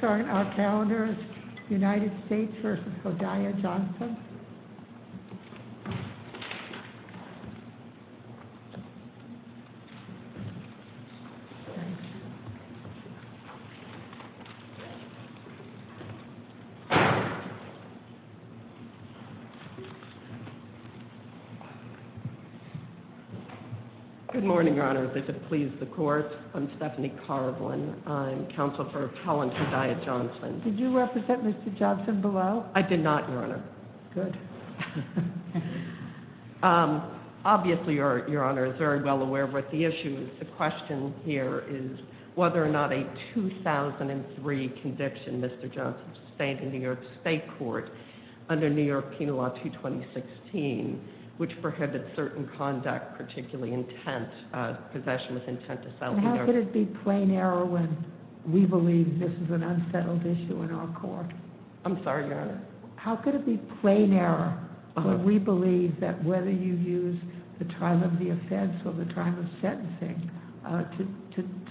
Good morning Your Honor, I'm Stephanie Carvelan, I'm Counsel for Appellant Hodaya and I'm here with Hodaya Johnson. Did you represent Mr. Johnson below? I did not, Your Honor. Good. Obviously, Your Honor is very well aware of what the issue is. The question here is whether or not a 2003 conviction Mr. Johnson sustained in New York State Court under New York Penal Law 226, which prohibited certain conduct, particularly intent, possession with intent to sell. How could it be plain error when we believe this is an unsettled issue in our court? I'm sorry, Your Honor. How could it be plain error when we believe that whether you use the trial of the offense or the trial of sentencing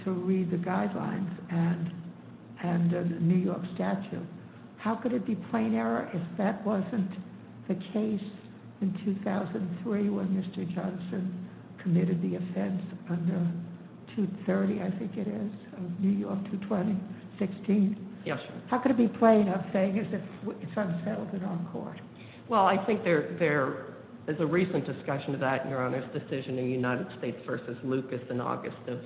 to read the guidelines and the New York statute, how could it be plain error if that wasn't the case in 2003 when Mr. Johnson committed the offense under 230, I think it is, of New York 220-16? Yes, Your Honor. How could it be plain I'm saying as if it's unsettled in our court? Well, I think there is a recent discussion of that, Your Honor's decision in United States v. Lucas in August of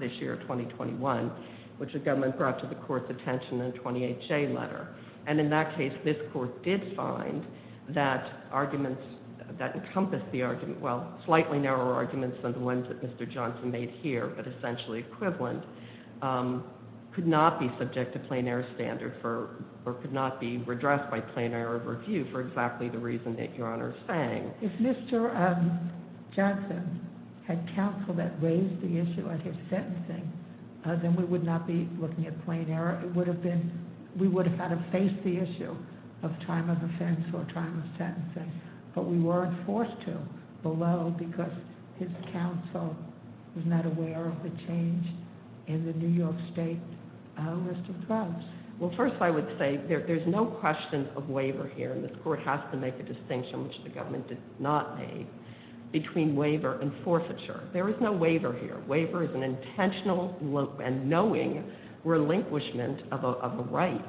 this year, 2021, which the government brought to the court's attention in a 28-J letter. And in that case, this court did find that arguments that encompass the argument, well, slightly narrower arguments than the ones that Mr. Johnson made here, but essentially equivalent, could not be subject to plain error standard or could not be redressed by plain error of review for exactly the reason that Your Honor is saying. If Mr. Johnson had counsel that raised the issue of his sentencing, then we would not be looking at plain error. It would have been, we would have had to face the issue of trial of offense or trial of sentencing, but we weren't forced to below because his counsel was not aware of the change in the New York state list of drugs. Well, first I would say there's no question of waiver here, and this court has to make a distinction, which the government did not make, between waiver and forfeiture. There is no waiver here. Waiver is an intentional and knowing relinquishment of a right,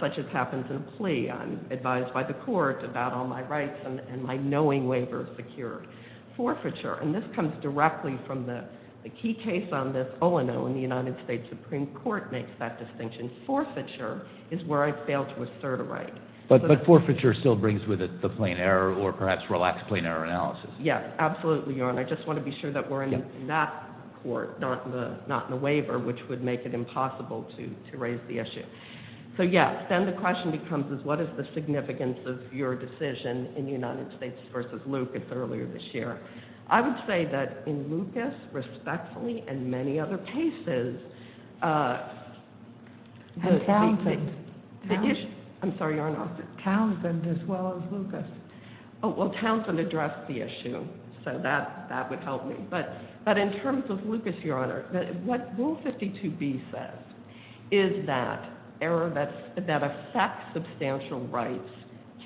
such as happens in a plea. I'm advised by the court about all my rights and my knowing waiver is secure. Forfeiture, and this comes directly from the key case on this, ONO, and the United States Supreme Court makes that distinction. Forfeiture is where I failed to assert a right. But forfeiture still brings with it the plain error or perhaps relaxed plain error analysis. Yes, absolutely, Your Honor. I just want to be sure that we're in that court, not in the waiver, which would make it impossible to raise the issue. So, yes, then the question becomes is what is the significance of your decision in the United States v. Lucas earlier this year? I would say that in Lucas, respectfully, and many other cases. And Townsend. I'm sorry, Your Honor. Townsend as well as Lucas. Oh, well, Townsend addressed the issue, so that would help me. But in terms of Lucas, Your Honor, what Rule 52B says is that error that affects substantial rights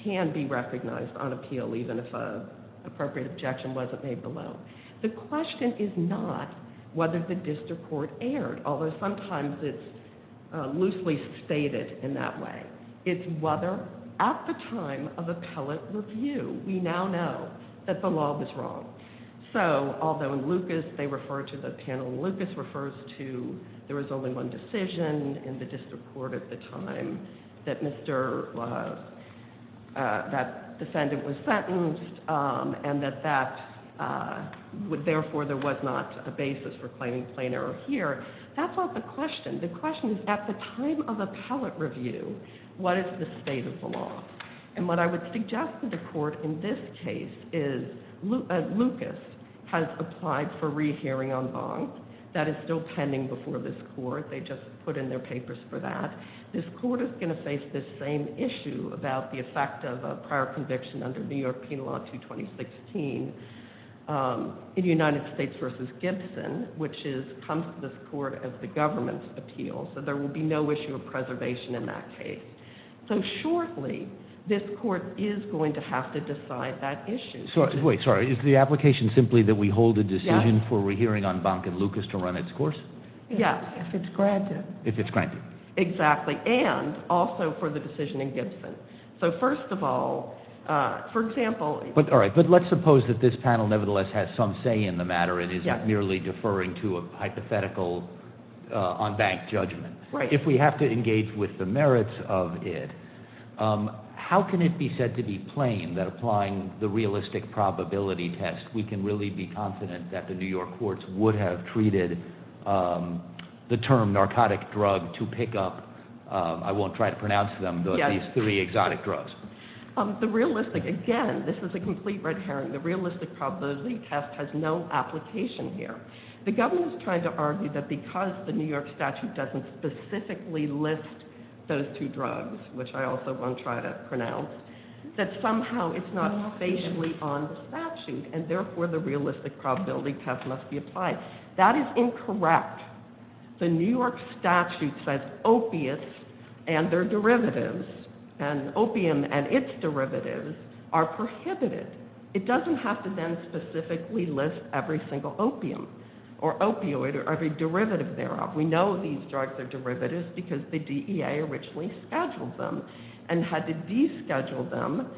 can be recognized on appeal, even if an appropriate objection wasn't made below. The question is not whether the district court erred, although sometimes it's loosely stated in that way. It's whether at the time of appellate review, we now know that the law was wrong. So, although in Lucas they refer to the panel, Lucas refers to there was only one decision in the district court at the time that that defendant was sentenced, and that therefore there was not a basis for claiming plain error here. That's not the question. The question is at the time of appellate review, what is the state of the law? And what I would suggest to the court in this case is Lucas has applied for rehearing en banc. That is still pending before this court. They just put in their papers for that. This court is going to face this same issue about the effect of a prior conviction under New York Penal Law 2-2016 in United States v. Gibson, which comes to this court as the government's appeal. So there will be no issue of preservation in that case. So shortly, this court is going to have to decide that issue. Wait, sorry. Is the application simply that we hold a decision for rehearing en banc in Lucas to run its course? Yes. If it's granted. If it's granted. Exactly. And also for the decision in Gibson. So first of all, for example— All right. But let's suppose that this panel nevertheless has some say in the matter and isn't merely deferring to a hypothetical en banc judgment. Right. And if we have to engage with the merits of it, how can it be said to be plain that applying the realistic probability test, we can really be confident that the New York courts would have treated the term narcotic drug to pick up—I won't try to pronounce them, but at least three exotic drugs. The realistic—again, this is a complete red herring. The realistic probability test has no application here. The government is trying to argue that because the New York statute doesn't specifically list those two drugs, which I also won't try to pronounce, that somehow it's not spatially on the statute, and therefore the realistic probability test must be applied. That is incorrect. The New York statute says opiates and their derivatives, and opium and its derivatives, are prohibited. It doesn't have to then specifically list every single opium or opioid or every derivative thereof. We know these drugs are derivatives because the DEA originally scheduled them and had to de-schedule them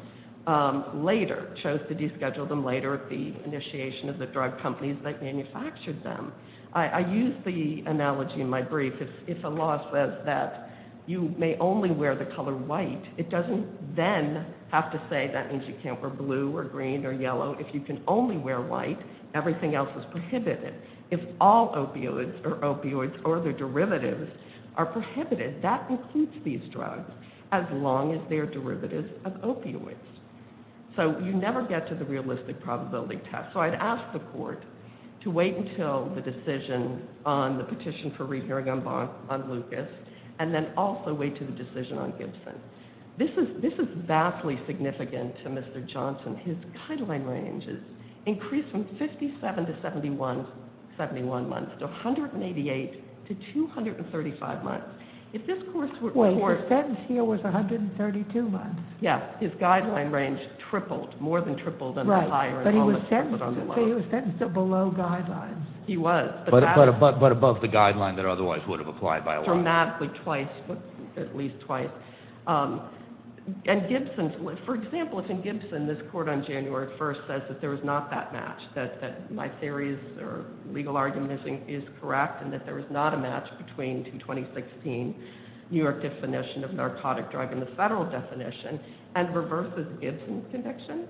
later, chose to de-schedule them later at the initiation of the drug companies that manufactured them. I use the analogy in my brief. If a law says that you may only wear the color white, it doesn't then have to say that means you can't wear blue or green or yellow. If you can only wear white, everything else is prohibited. If all opioids or their derivatives are prohibited, that includes these drugs, as long as they are derivatives of opioids. So you never get to the realistic probability test. So I'd ask the court to wait until the decision on the petition for re-hearing on Lucas, and then also wait until the decision on Gibson. This is vastly significant to Mr. Johnson. His guideline range has increased from 57 to 71 months, to 188 to 235 months. If this court were to report- Well, he said he was 132 months. Yes, his guideline range tripled, more than tripled. Right, but he was sentenced to below guidelines. He was. But above the guideline that otherwise would have applied by a lot. Dramatically twice, at least twice. For example, if in Gibson this court on January 1st says that there is not that match, that my theory or legal argument is correct, and that there is not a match between the 2016 New York definition of narcotic drug and the federal definition, and reverses Gibson's conviction,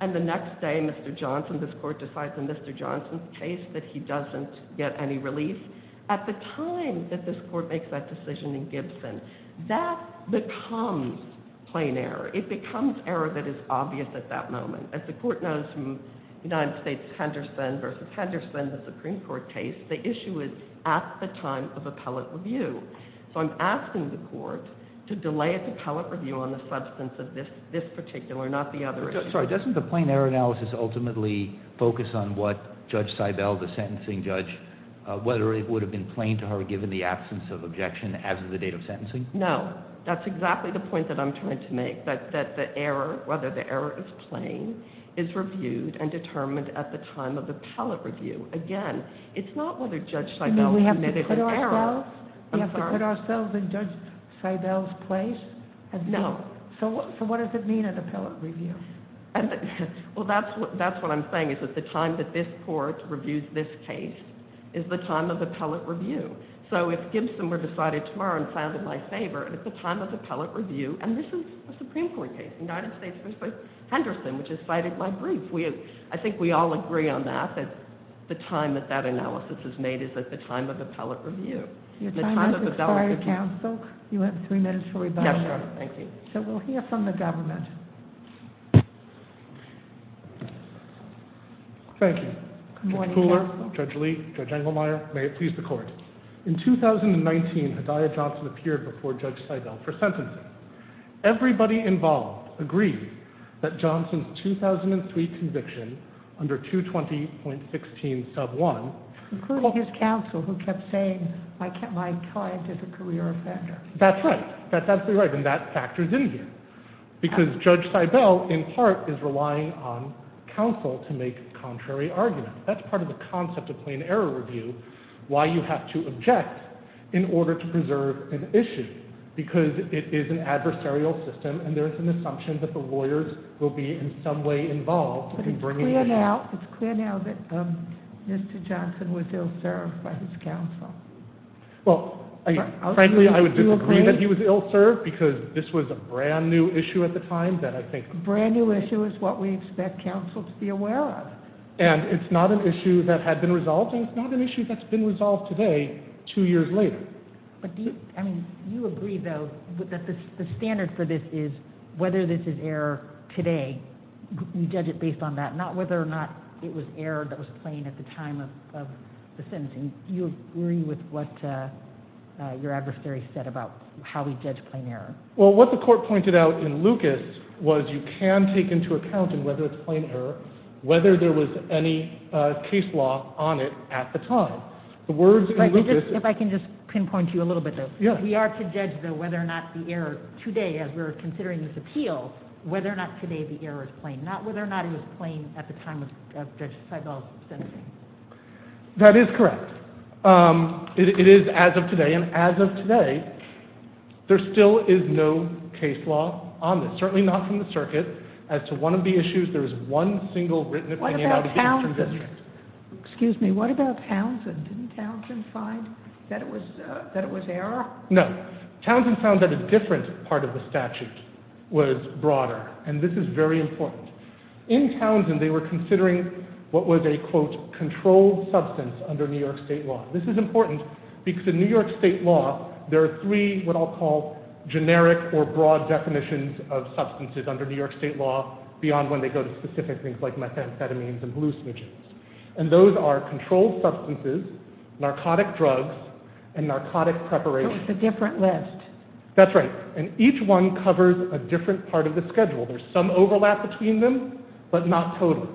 and the next day Mr. Johnson, this court decides in Mr. Johnson's case that he doesn't get any relief, at the time that this court makes that decision in Gibson, that becomes plain error. It becomes error that is obvious at that moment. As the court knows from United States Henderson v. Henderson, the Supreme Court case, the issue is at the time of appellate review. So I'm asking the court to delay its appellate review on the substance of this particular, not the other issue. Sorry, doesn't the plain error analysis ultimately focus on what Judge Seibel, the sentencing judge, whether it would have been plain to her given the absence of objection as of the date of sentencing? No, that's exactly the point that I'm trying to make, that the error, whether the error is plain, is reviewed and determined at the time of the appellate review. Again, it's not whether Judge Seibel admitted an error. We have to put ourselves in Judge Seibel's place? No. So what does it mean at appellate review? Well, that's what I'm saying, is that the time that this court reviews this case is the time of appellate review. So if Gibson were decided tomorrow and found in my favor at the time of appellate review, and this is a Supreme Court case, United States v. Henderson, which is cited in my brief, I think we all agree on that, that the time that that analysis is made is at the time of appellate review. Your time has expired, counsel. You have three minutes for rebuttal. Yes, Your Honor. Thank you. So we'll hear from the government. Thank you. Good morning, counsel. Judge Pooler, Judge Lee, Judge Engelmeyer, may it please the Court. In 2019, Hedaya Johnson appeared before Judge Seibel for sentencing. Everybody involved agrees that Johnson's 2003 conviction under 220.16 sub 1 Including his counsel who kept saying my client is a career offender. That's right. That's absolutely right, and that factors in here. Because Judge Seibel, in part, is relying on counsel to make contrary arguments. That's part of the concept of plain error review, why you have to object in order to preserve an issue, because it is an adversarial system, and there is an assumption that the lawyers will be in some way involved in bringing that case. But it's clear now that Mr. Johnson was ill-served by his counsel. Well, frankly, I would disagree that he was ill-served, because this was a brand-new issue at the time that I think Brand-new issue is what we expect counsel to be aware of. And it's not an issue that had been resolved, and it's not an issue that's been resolved today, two years later. You agree, though, that the standard for this is whether this is error today. You judge it based on that, not whether or not it was error that was plain at the time of the sentencing. Do you agree with what your adversary said about how we judge plain error? Well, what the court pointed out in Lucas was you can take into account, and whether it's plain error, whether there was any case law on it at the time. If I can just pinpoint to you a little bit, though. We are to judge, though, whether or not the error today, as we're considering this appeal, whether or not today the error is plain, not whether or not it was plain at the time of Judge Seibel's sentencing. That is correct. It is as of today, and as of today, there still is no case law on this, certainly not from the circuit. As to one of the issues, there is one single written opinion on the case from the district. Excuse me, what about Townsend? Didn't Townsend find that it was error? No. Townsend found that a different part of the statute was broader, and this is very important. In Townsend, they were considering what was a, quote, controlled substance under New York State law. This is important because in New York State law, there are three, what I'll call, generic or broad definitions of substances under New York State law beyond when they go to specific things like methamphetamines and hallucinogens, and those are controlled substances, narcotic drugs, and narcotic preparation. So it's a different list. That's right, and each one covers a different part of the schedule. There's some overlap between them, but not total.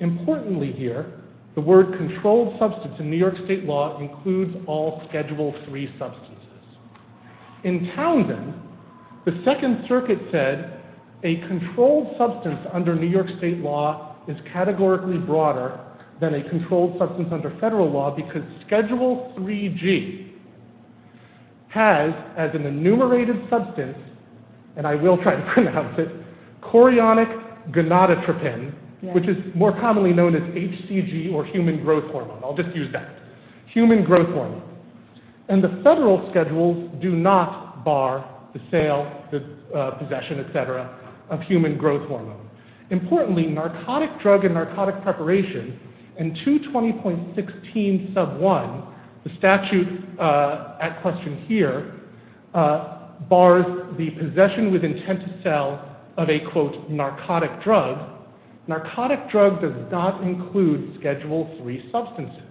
Importantly here, the word controlled substance in New York State law includes all Schedule III substances. In Townsend, the Second Circuit said a controlled substance under New York State law is categorically broader than a controlled substance under federal law because Schedule IIIg has, as an enumerated substance, and I will try to pronounce it, chorionic gonadotropin, which is more commonly known as HCG or human growth hormone. I'll just use that. Human growth hormone. And the federal schedules do not bar the sale, the possession, etc., of human growth hormone. Importantly, narcotic drug and narcotic preparation in 220.16 sub 1, the statute at question here, bars the possession with intent to sell of a, quote, narcotic drug. Narcotic drug does not include Schedule III substances.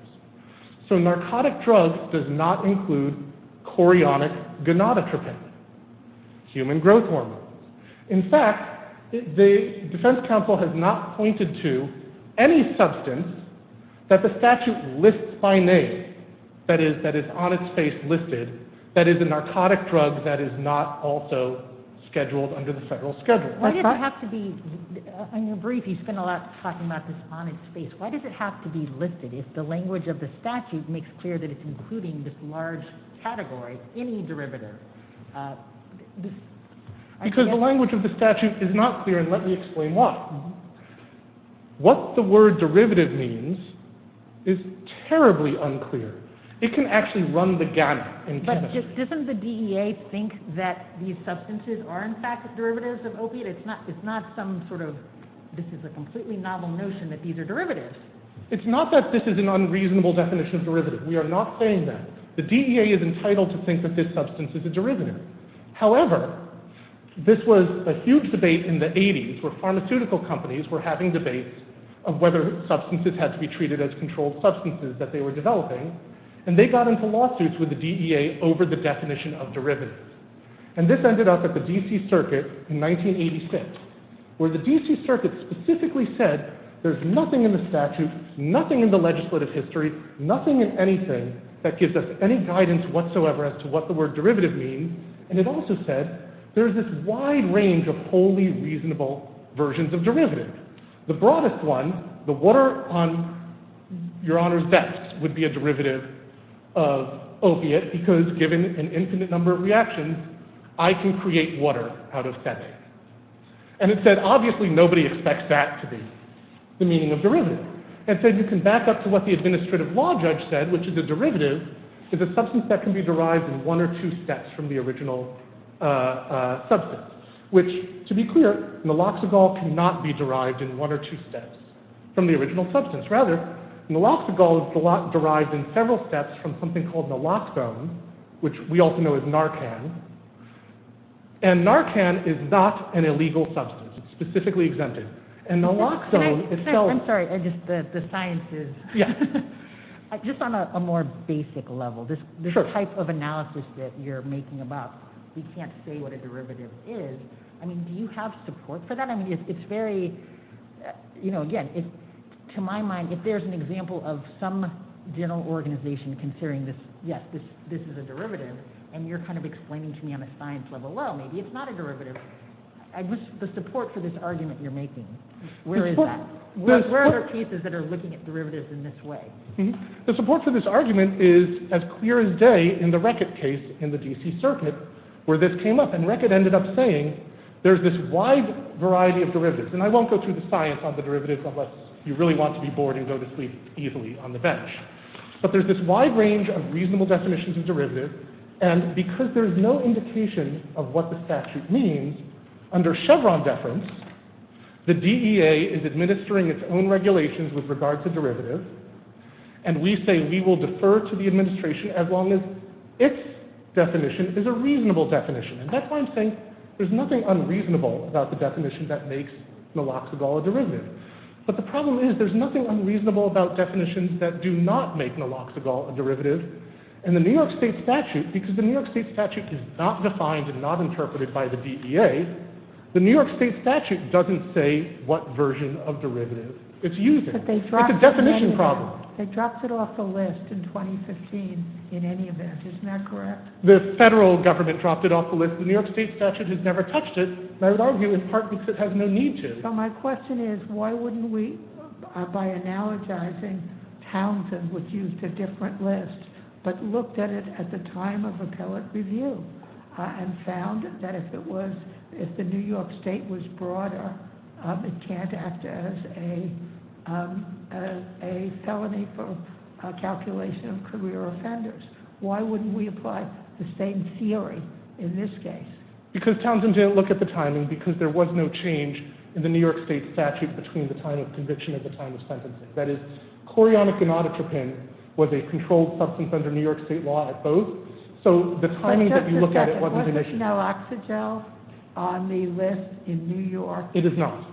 So narcotic drug does not include chorionic gonadotropin, human growth hormone. In fact, the defense counsel has not pointed to any substance that the statute lists by name, that is, that is on its face listed, that is a narcotic drug that is not also scheduled under the federal schedule. In your brief, you spend a lot talking about this on its face. Why does it have to be listed if the language of the statute makes clear that it's including this large category, any derivative? Because the language of the statute is not clear, and let me explain why. What the word derivative means is terribly unclear. It can actually run the gamut in chemistry. But just doesn't the DEA think that these substances are, in fact, derivatives of opiate? It's not some sort of, this is a completely novel notion that these are derivatives. It's not that this is an unreasonable definition of derivative. We are not saying that. The DEA is entitled to think that this substance is a derivative. However, this was a huge debate in the 80s where pharmaceutical companies were having debates of whether substances had to be treated as controlled substances that they were developing, and they got into lawsuits with the DEA over the definition of derivatives. And this ended up at the D.C. Circuit in 1986, where the D.C. Circuit specifically said there's nothing in the statute, nothing in the legislative history, nothing in anything that gives us any guidance whatsoever as to what the word derivative means. And it also said there's this wide range of wholly reasonable versions of derivatives. The broadest one, the water on your honor's desk, would be a derivative of opiate because given an infinite number of reactions, I can create water out of sediment. And it said obviously nobody expects that to be the meaning of derivative. It said you can back up to what the administrative law judge said, which is a derivative is a substance that can be derived in one or two steps from the original substance. Which, to be clear, naloxogol cannot be derived in one or two steps from the original substance. Rather, naloxogol is derived in several steps from something called naloxone, which we also know as Narcan. And Narcan is not an illegal substance. It's specifically exempted. And naloxone itself- I'm sorry, the science is- Yeah. Just on a more basic level, this type of analysis that you're making about we can't say what a derivative is, I mean, do you have support for that? I mean, it's very, you know, again, to my mind, if there's an example of some general organization considering this, yes, this is a derivative, and you're kind of explaining to me on a science level, well, maybe it's not a derivative. The support for this argument you're making, where is that? Where are pieces that are looking at derivatives in this way? The support for this argument is as clear as day in the Reckitt case in the D.C. Circuit, where this came up, and Reckitt ended up saying there's this wide variety of derivatives, and I won't go through the science on the derivatives unless you really want to be bored and go to sleep easily on the bench. But there's this wide range of reasonable definitions of derivatives, and because there's no indication of what the statute means, under Chevron deference, the DEA is administering its own regulations with regard to derivatives, and we say we will defer to the administration as long as its definition is a reasonable definition. And that's why I'm saying there's nothing unreasonable about the definition that makes naloxagol a derivative. But the problem is there's nothing unreasonable about definitions that do not make naloxagol a derivative, and the New York State statute, because the New York State statute is not defined and not interpreted by the DEA, the New York State statute doesn't say what version of derivative it's using. It's a definition problem. They dropped it off the list in 2015 in any event. Isn't that correct? The federal government dropped it off the list. The New York State statute has never touched it, and I would argue in part because it has no need to. So my question is why wouldn't we, by analogizing Townsend, which used a different list, but looked at it at the time of appellate review and found that if the New York State was broader, it can't act as a felony for calculation of career offenders. Why wouldn't we apply the same theory in this case? Because Townsend didn't look at the timing because there was no change in the New York State statute between the time of conviction and the time of sentencing. That is, chlorionic and nauticapin was a controlled substance under New York State law at both. So the timing that you look at it wasn't initial. Was naloxygel on the list in New York? It is not.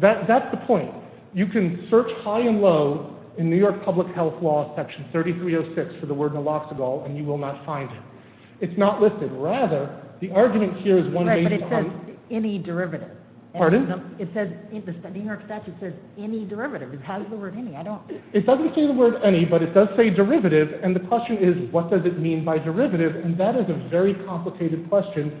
That's the point. You can search high and low in New York public health law section 3306 for the word naloxygel, and you will not find it. It's not listed. Rather, the argument here is one based on… Right, but it says any derivative. Pardon? The New York statute says any derivative. It has the word any. It doesn't say the word any, but it does say derivative, and the question is what does it mean by derivative, and that is a very complicated question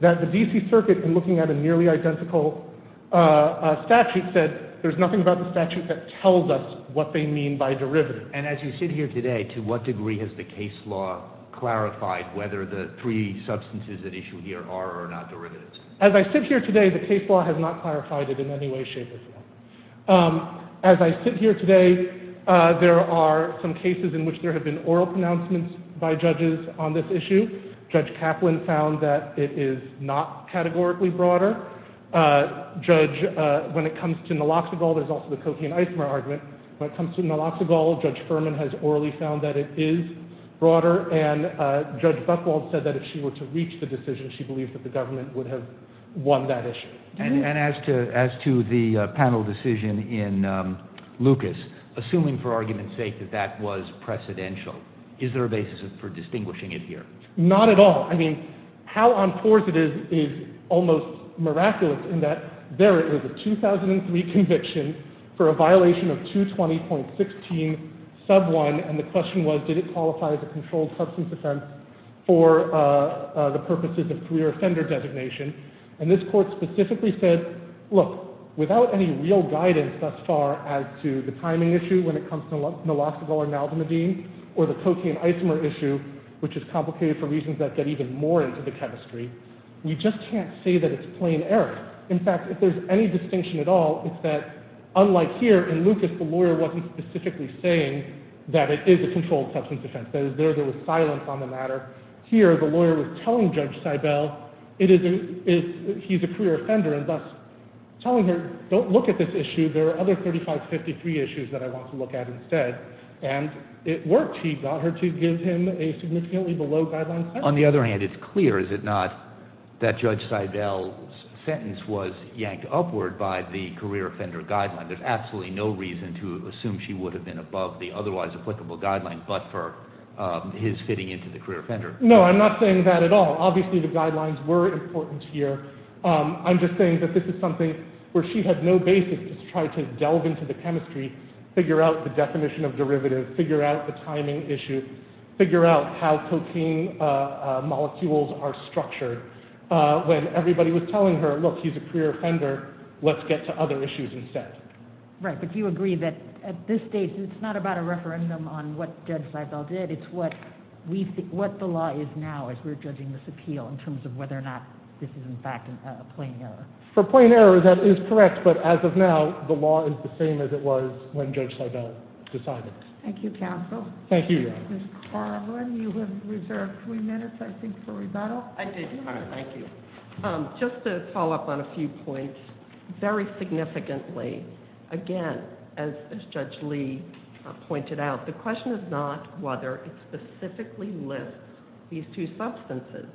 that the D.C. Circuit, in looking at a nearly identical statute, said there's nothing about the statute that tells us what they mean by derivative. And as you sit here today, to what degree has the case law clarified whether the three substances at issue here are or are not derivatives? As I sit here today, the case law has not clarified it in any way, shape, or form. As I sit here today, there are some cases in which there have been oral pronouncements by judges on this issue. Judge Kaplan found that it is not categorically broader. Judge, when it comes to naloxygel, there's also the cocaine-icemar argument. When it comes to naloxygel, Judge Furman has orally found that it is broader, and Judge Buchwald said that if she were to reach the decision, she believes that the government would have won that issue. And as to the panel decision in Lucas, assuming for argument's sake that that was precedential, is there a basis for distinguishing it here? Not at all. I mean, how on course it is is almost miraculous in that there is a 2003 conviction for a violation of 220.16 sub 1, and the question was did it qualify as a controlled substance offense for the purposes of career offender designation. And this court specifically said, look, without any real guidance thus far as to the timing issue when it comes to naloxygel or naldezimabine, or the cocaine-icemar issue, which is complicated for reasons that get even more into the chemistry, we just can't say that it's plain error. In fact, if there's any distinction at all, it's that unlike here in Lucas, the lawyer wasn't specifically saying that it is a controlled substance offense. There was silence on the matter. Here the lawyer was telling Judge Seibel he's a career offender and thus telling her don't look at this issue. There are other 3553 issues that I want to look at instead. And it worked. He got her to give him a significantly below guideline sentence. On the other hand, it's clear, is it not, that Judge Seibel's sentence was yanked upward by the career offender guideline. There's absolutely no reason to assume she would have been above the otherwise applicable guideline, but for his fitting into the career offender. No, I'm not saying that at all. Obviously the guidelines were important here. I'm just saying that this is something where she had no basis to try to delve into the chemistry, figure out the definition of derivative, figure out the timing issue, figure out how cocaine molecules are structured. When everybody was telling her, look, he's a career offender, let's get to other issues instead. Right, but you agree that at this stage, it's not about a referendum on what Judge Seibel did. It's what the law is now as we're judging this appeal in terms of whether or not this is, in fact, a plain error. For a plain error, that is correct. But as of now, the law is the same as it was when Judge Seibel decided. Thank you, counsel. Thank you. Ms. Carlin, you have reserved three minutes, I think, for rebuttal. I did, Your Honor. Thank you. Just to follow up on a few points, very significantly, again, as Judge Lee pointed out, the question is not whether it specifically lists these two substances.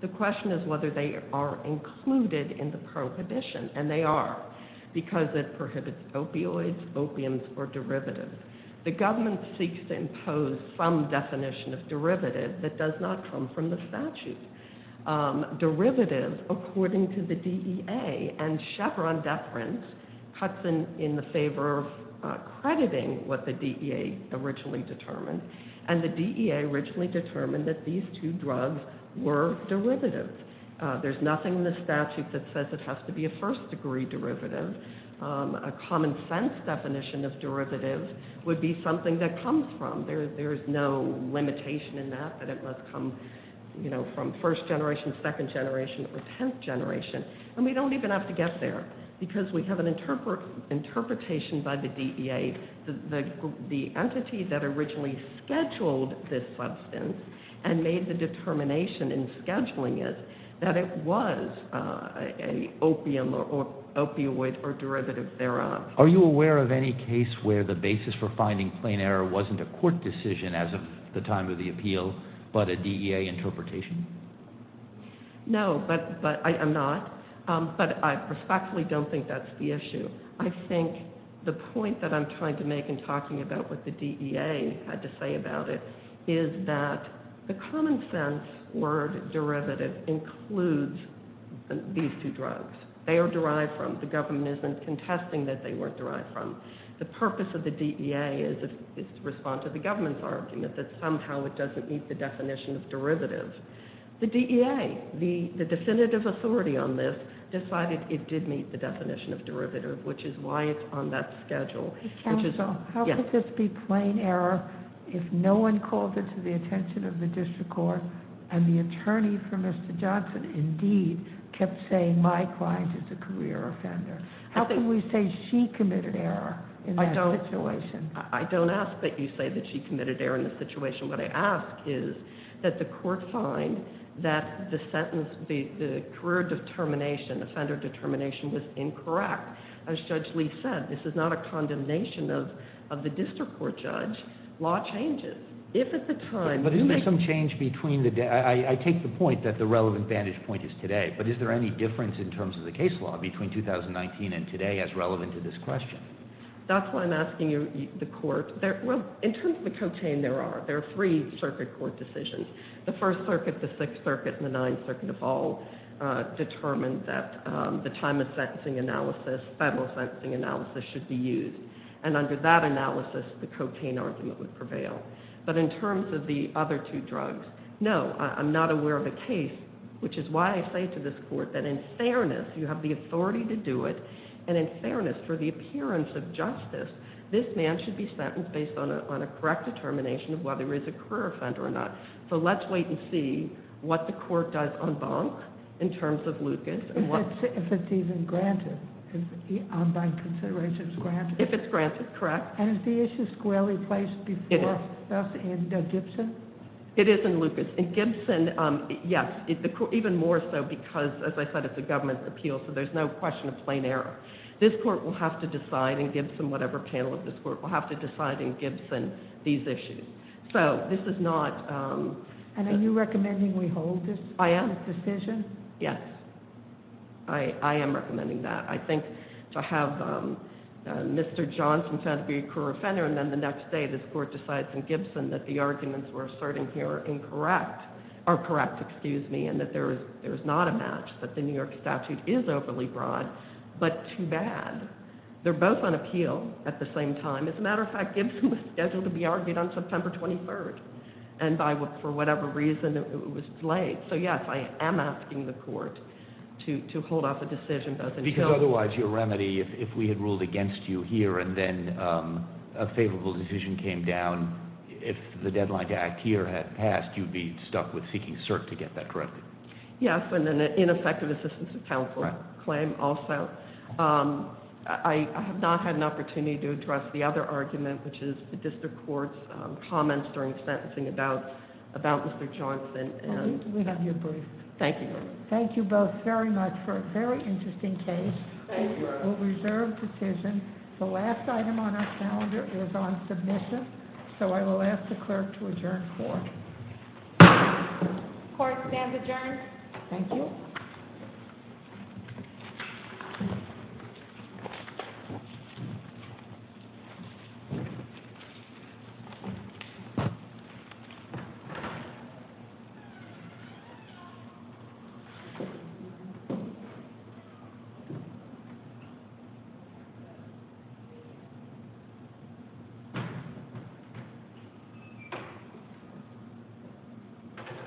The question is whether they are included in the prohibition, and they are because it prohibits opioids, opiums, or derivatives. The government seeks to impose some definition of derivative that does not come from the statute. Derivative, according to the DEA, and Chevron deference cuts in the favor of crediting what the DEA originally determined, and the DEA originally determined that these two drugs were derivatives. There's nothing in the statute that says it has to be a first-degree derivative. A common-sense definition of derivative would be something that comes from. There's no limitation in that, that it must come from first generation, second generation, or tenth generation. We don't even have to get there because we have an interpretation by the DEA that the entity that originally scheduled this substance and made the determination in scheduling it, that it was an opium or opioid or derivative thereof. Are you aware of any case where the basis for finding plain error wasn't a court decision as of the time of the appeal, but a DEA interpretation? No, but I'm not, but I respectfully don't think that's the issue. I think the point that I'm trying to make in talking about what the DEA had to say about it is that the common-sense word derivative includes these two drugs. They are derived from. The government isn't contesting that they weren't derived from. The purpose of the DEA is to respond to the government's argument that somehow it doesn't meet the definition of derivative. The DEA, the definitive authority on this, decided it did meet the definition of derivative, which is why it's on that schedule. Counsel, how could this be plain error if no one called it to the attention of the district court and the attorney for Mr. Johnson, indeed, kept saying my client is a career offender? How can we say she committed error in that situation? I don't ask that you say that she committed error in the situation. What I ask is that the court find that the sentence, the career determination, offender determination, was incorrect. As Judge Lee said, this is not a condemnation of the district court judge. Law changes. But isn't there some change between the day? I take the point that the relevant vantage point is today, but is there any difference in terms of the case law between 2019 and today as relevant to this question? That's why I'm asking the court. Well, in terms of the co-chain, there are. There are three circuit court decisions. The First Circuit, the Sixth Circuit, and the Ninth Circuit have all determined that the time of sentencing analysis, federal sentencing analysis, should be used. And under that analysis, the co-chain argument would prevail. But in terms of the other two drugs, no. I'm not aware of a case, which is why I say to this court that in fairness, you have the authority to do it, and in fairness, for the appearance of justice, this man should be sentenced based on a correct determination of whether he's a career offender or not. So let's wait and see what the court does on Bonk in terms of Lucas. If it's even granted. If it's granted, correct. And is the issue squarely placed before us in Gibson? It is in Lucas. In Gibson, yes. Even more so because, as I said, it's a government appeal, so there's no question of plain error. This court will have to decide in Gibson, whatever panel of this court, will have to decide in Gibson these issues. So this is not... And are you recommending we hold this decision? Yes. I am recommending that. I think to have Mr. Johnson found to be a career offender and then the next day this court decides in Gibson that the arguments we're asserting here are incorrect, are correct, excuse me, and that there is not a match, that the New York statute is overly broad, but too bad. They're both on appeal at the same time. As a matter of fact, Gibson was scheduled to be argued on September 23rd, and for whatever reason, it was delayed. So, yes, I am asking the court to hold off the decision. Because otherwise your remedy, if we had ruled against you here and then a favorable decision came down, if the deadline to act here had passed, you'd be stuck with seeking cert to get that corrected. Yes, and an ineffective assistance to counsel claim also. I have not had an opportunity to address the other argument, which is the district court's comments during sentencing about Mr. Johnson. We have you briefed. Thank you. Thank you both very much for a very interesting case. We'll reserve decision. The last item on our calendar is on submission, so I will ask the clerk to adjourn court. Court is now adjourned. Thank you. Thank you.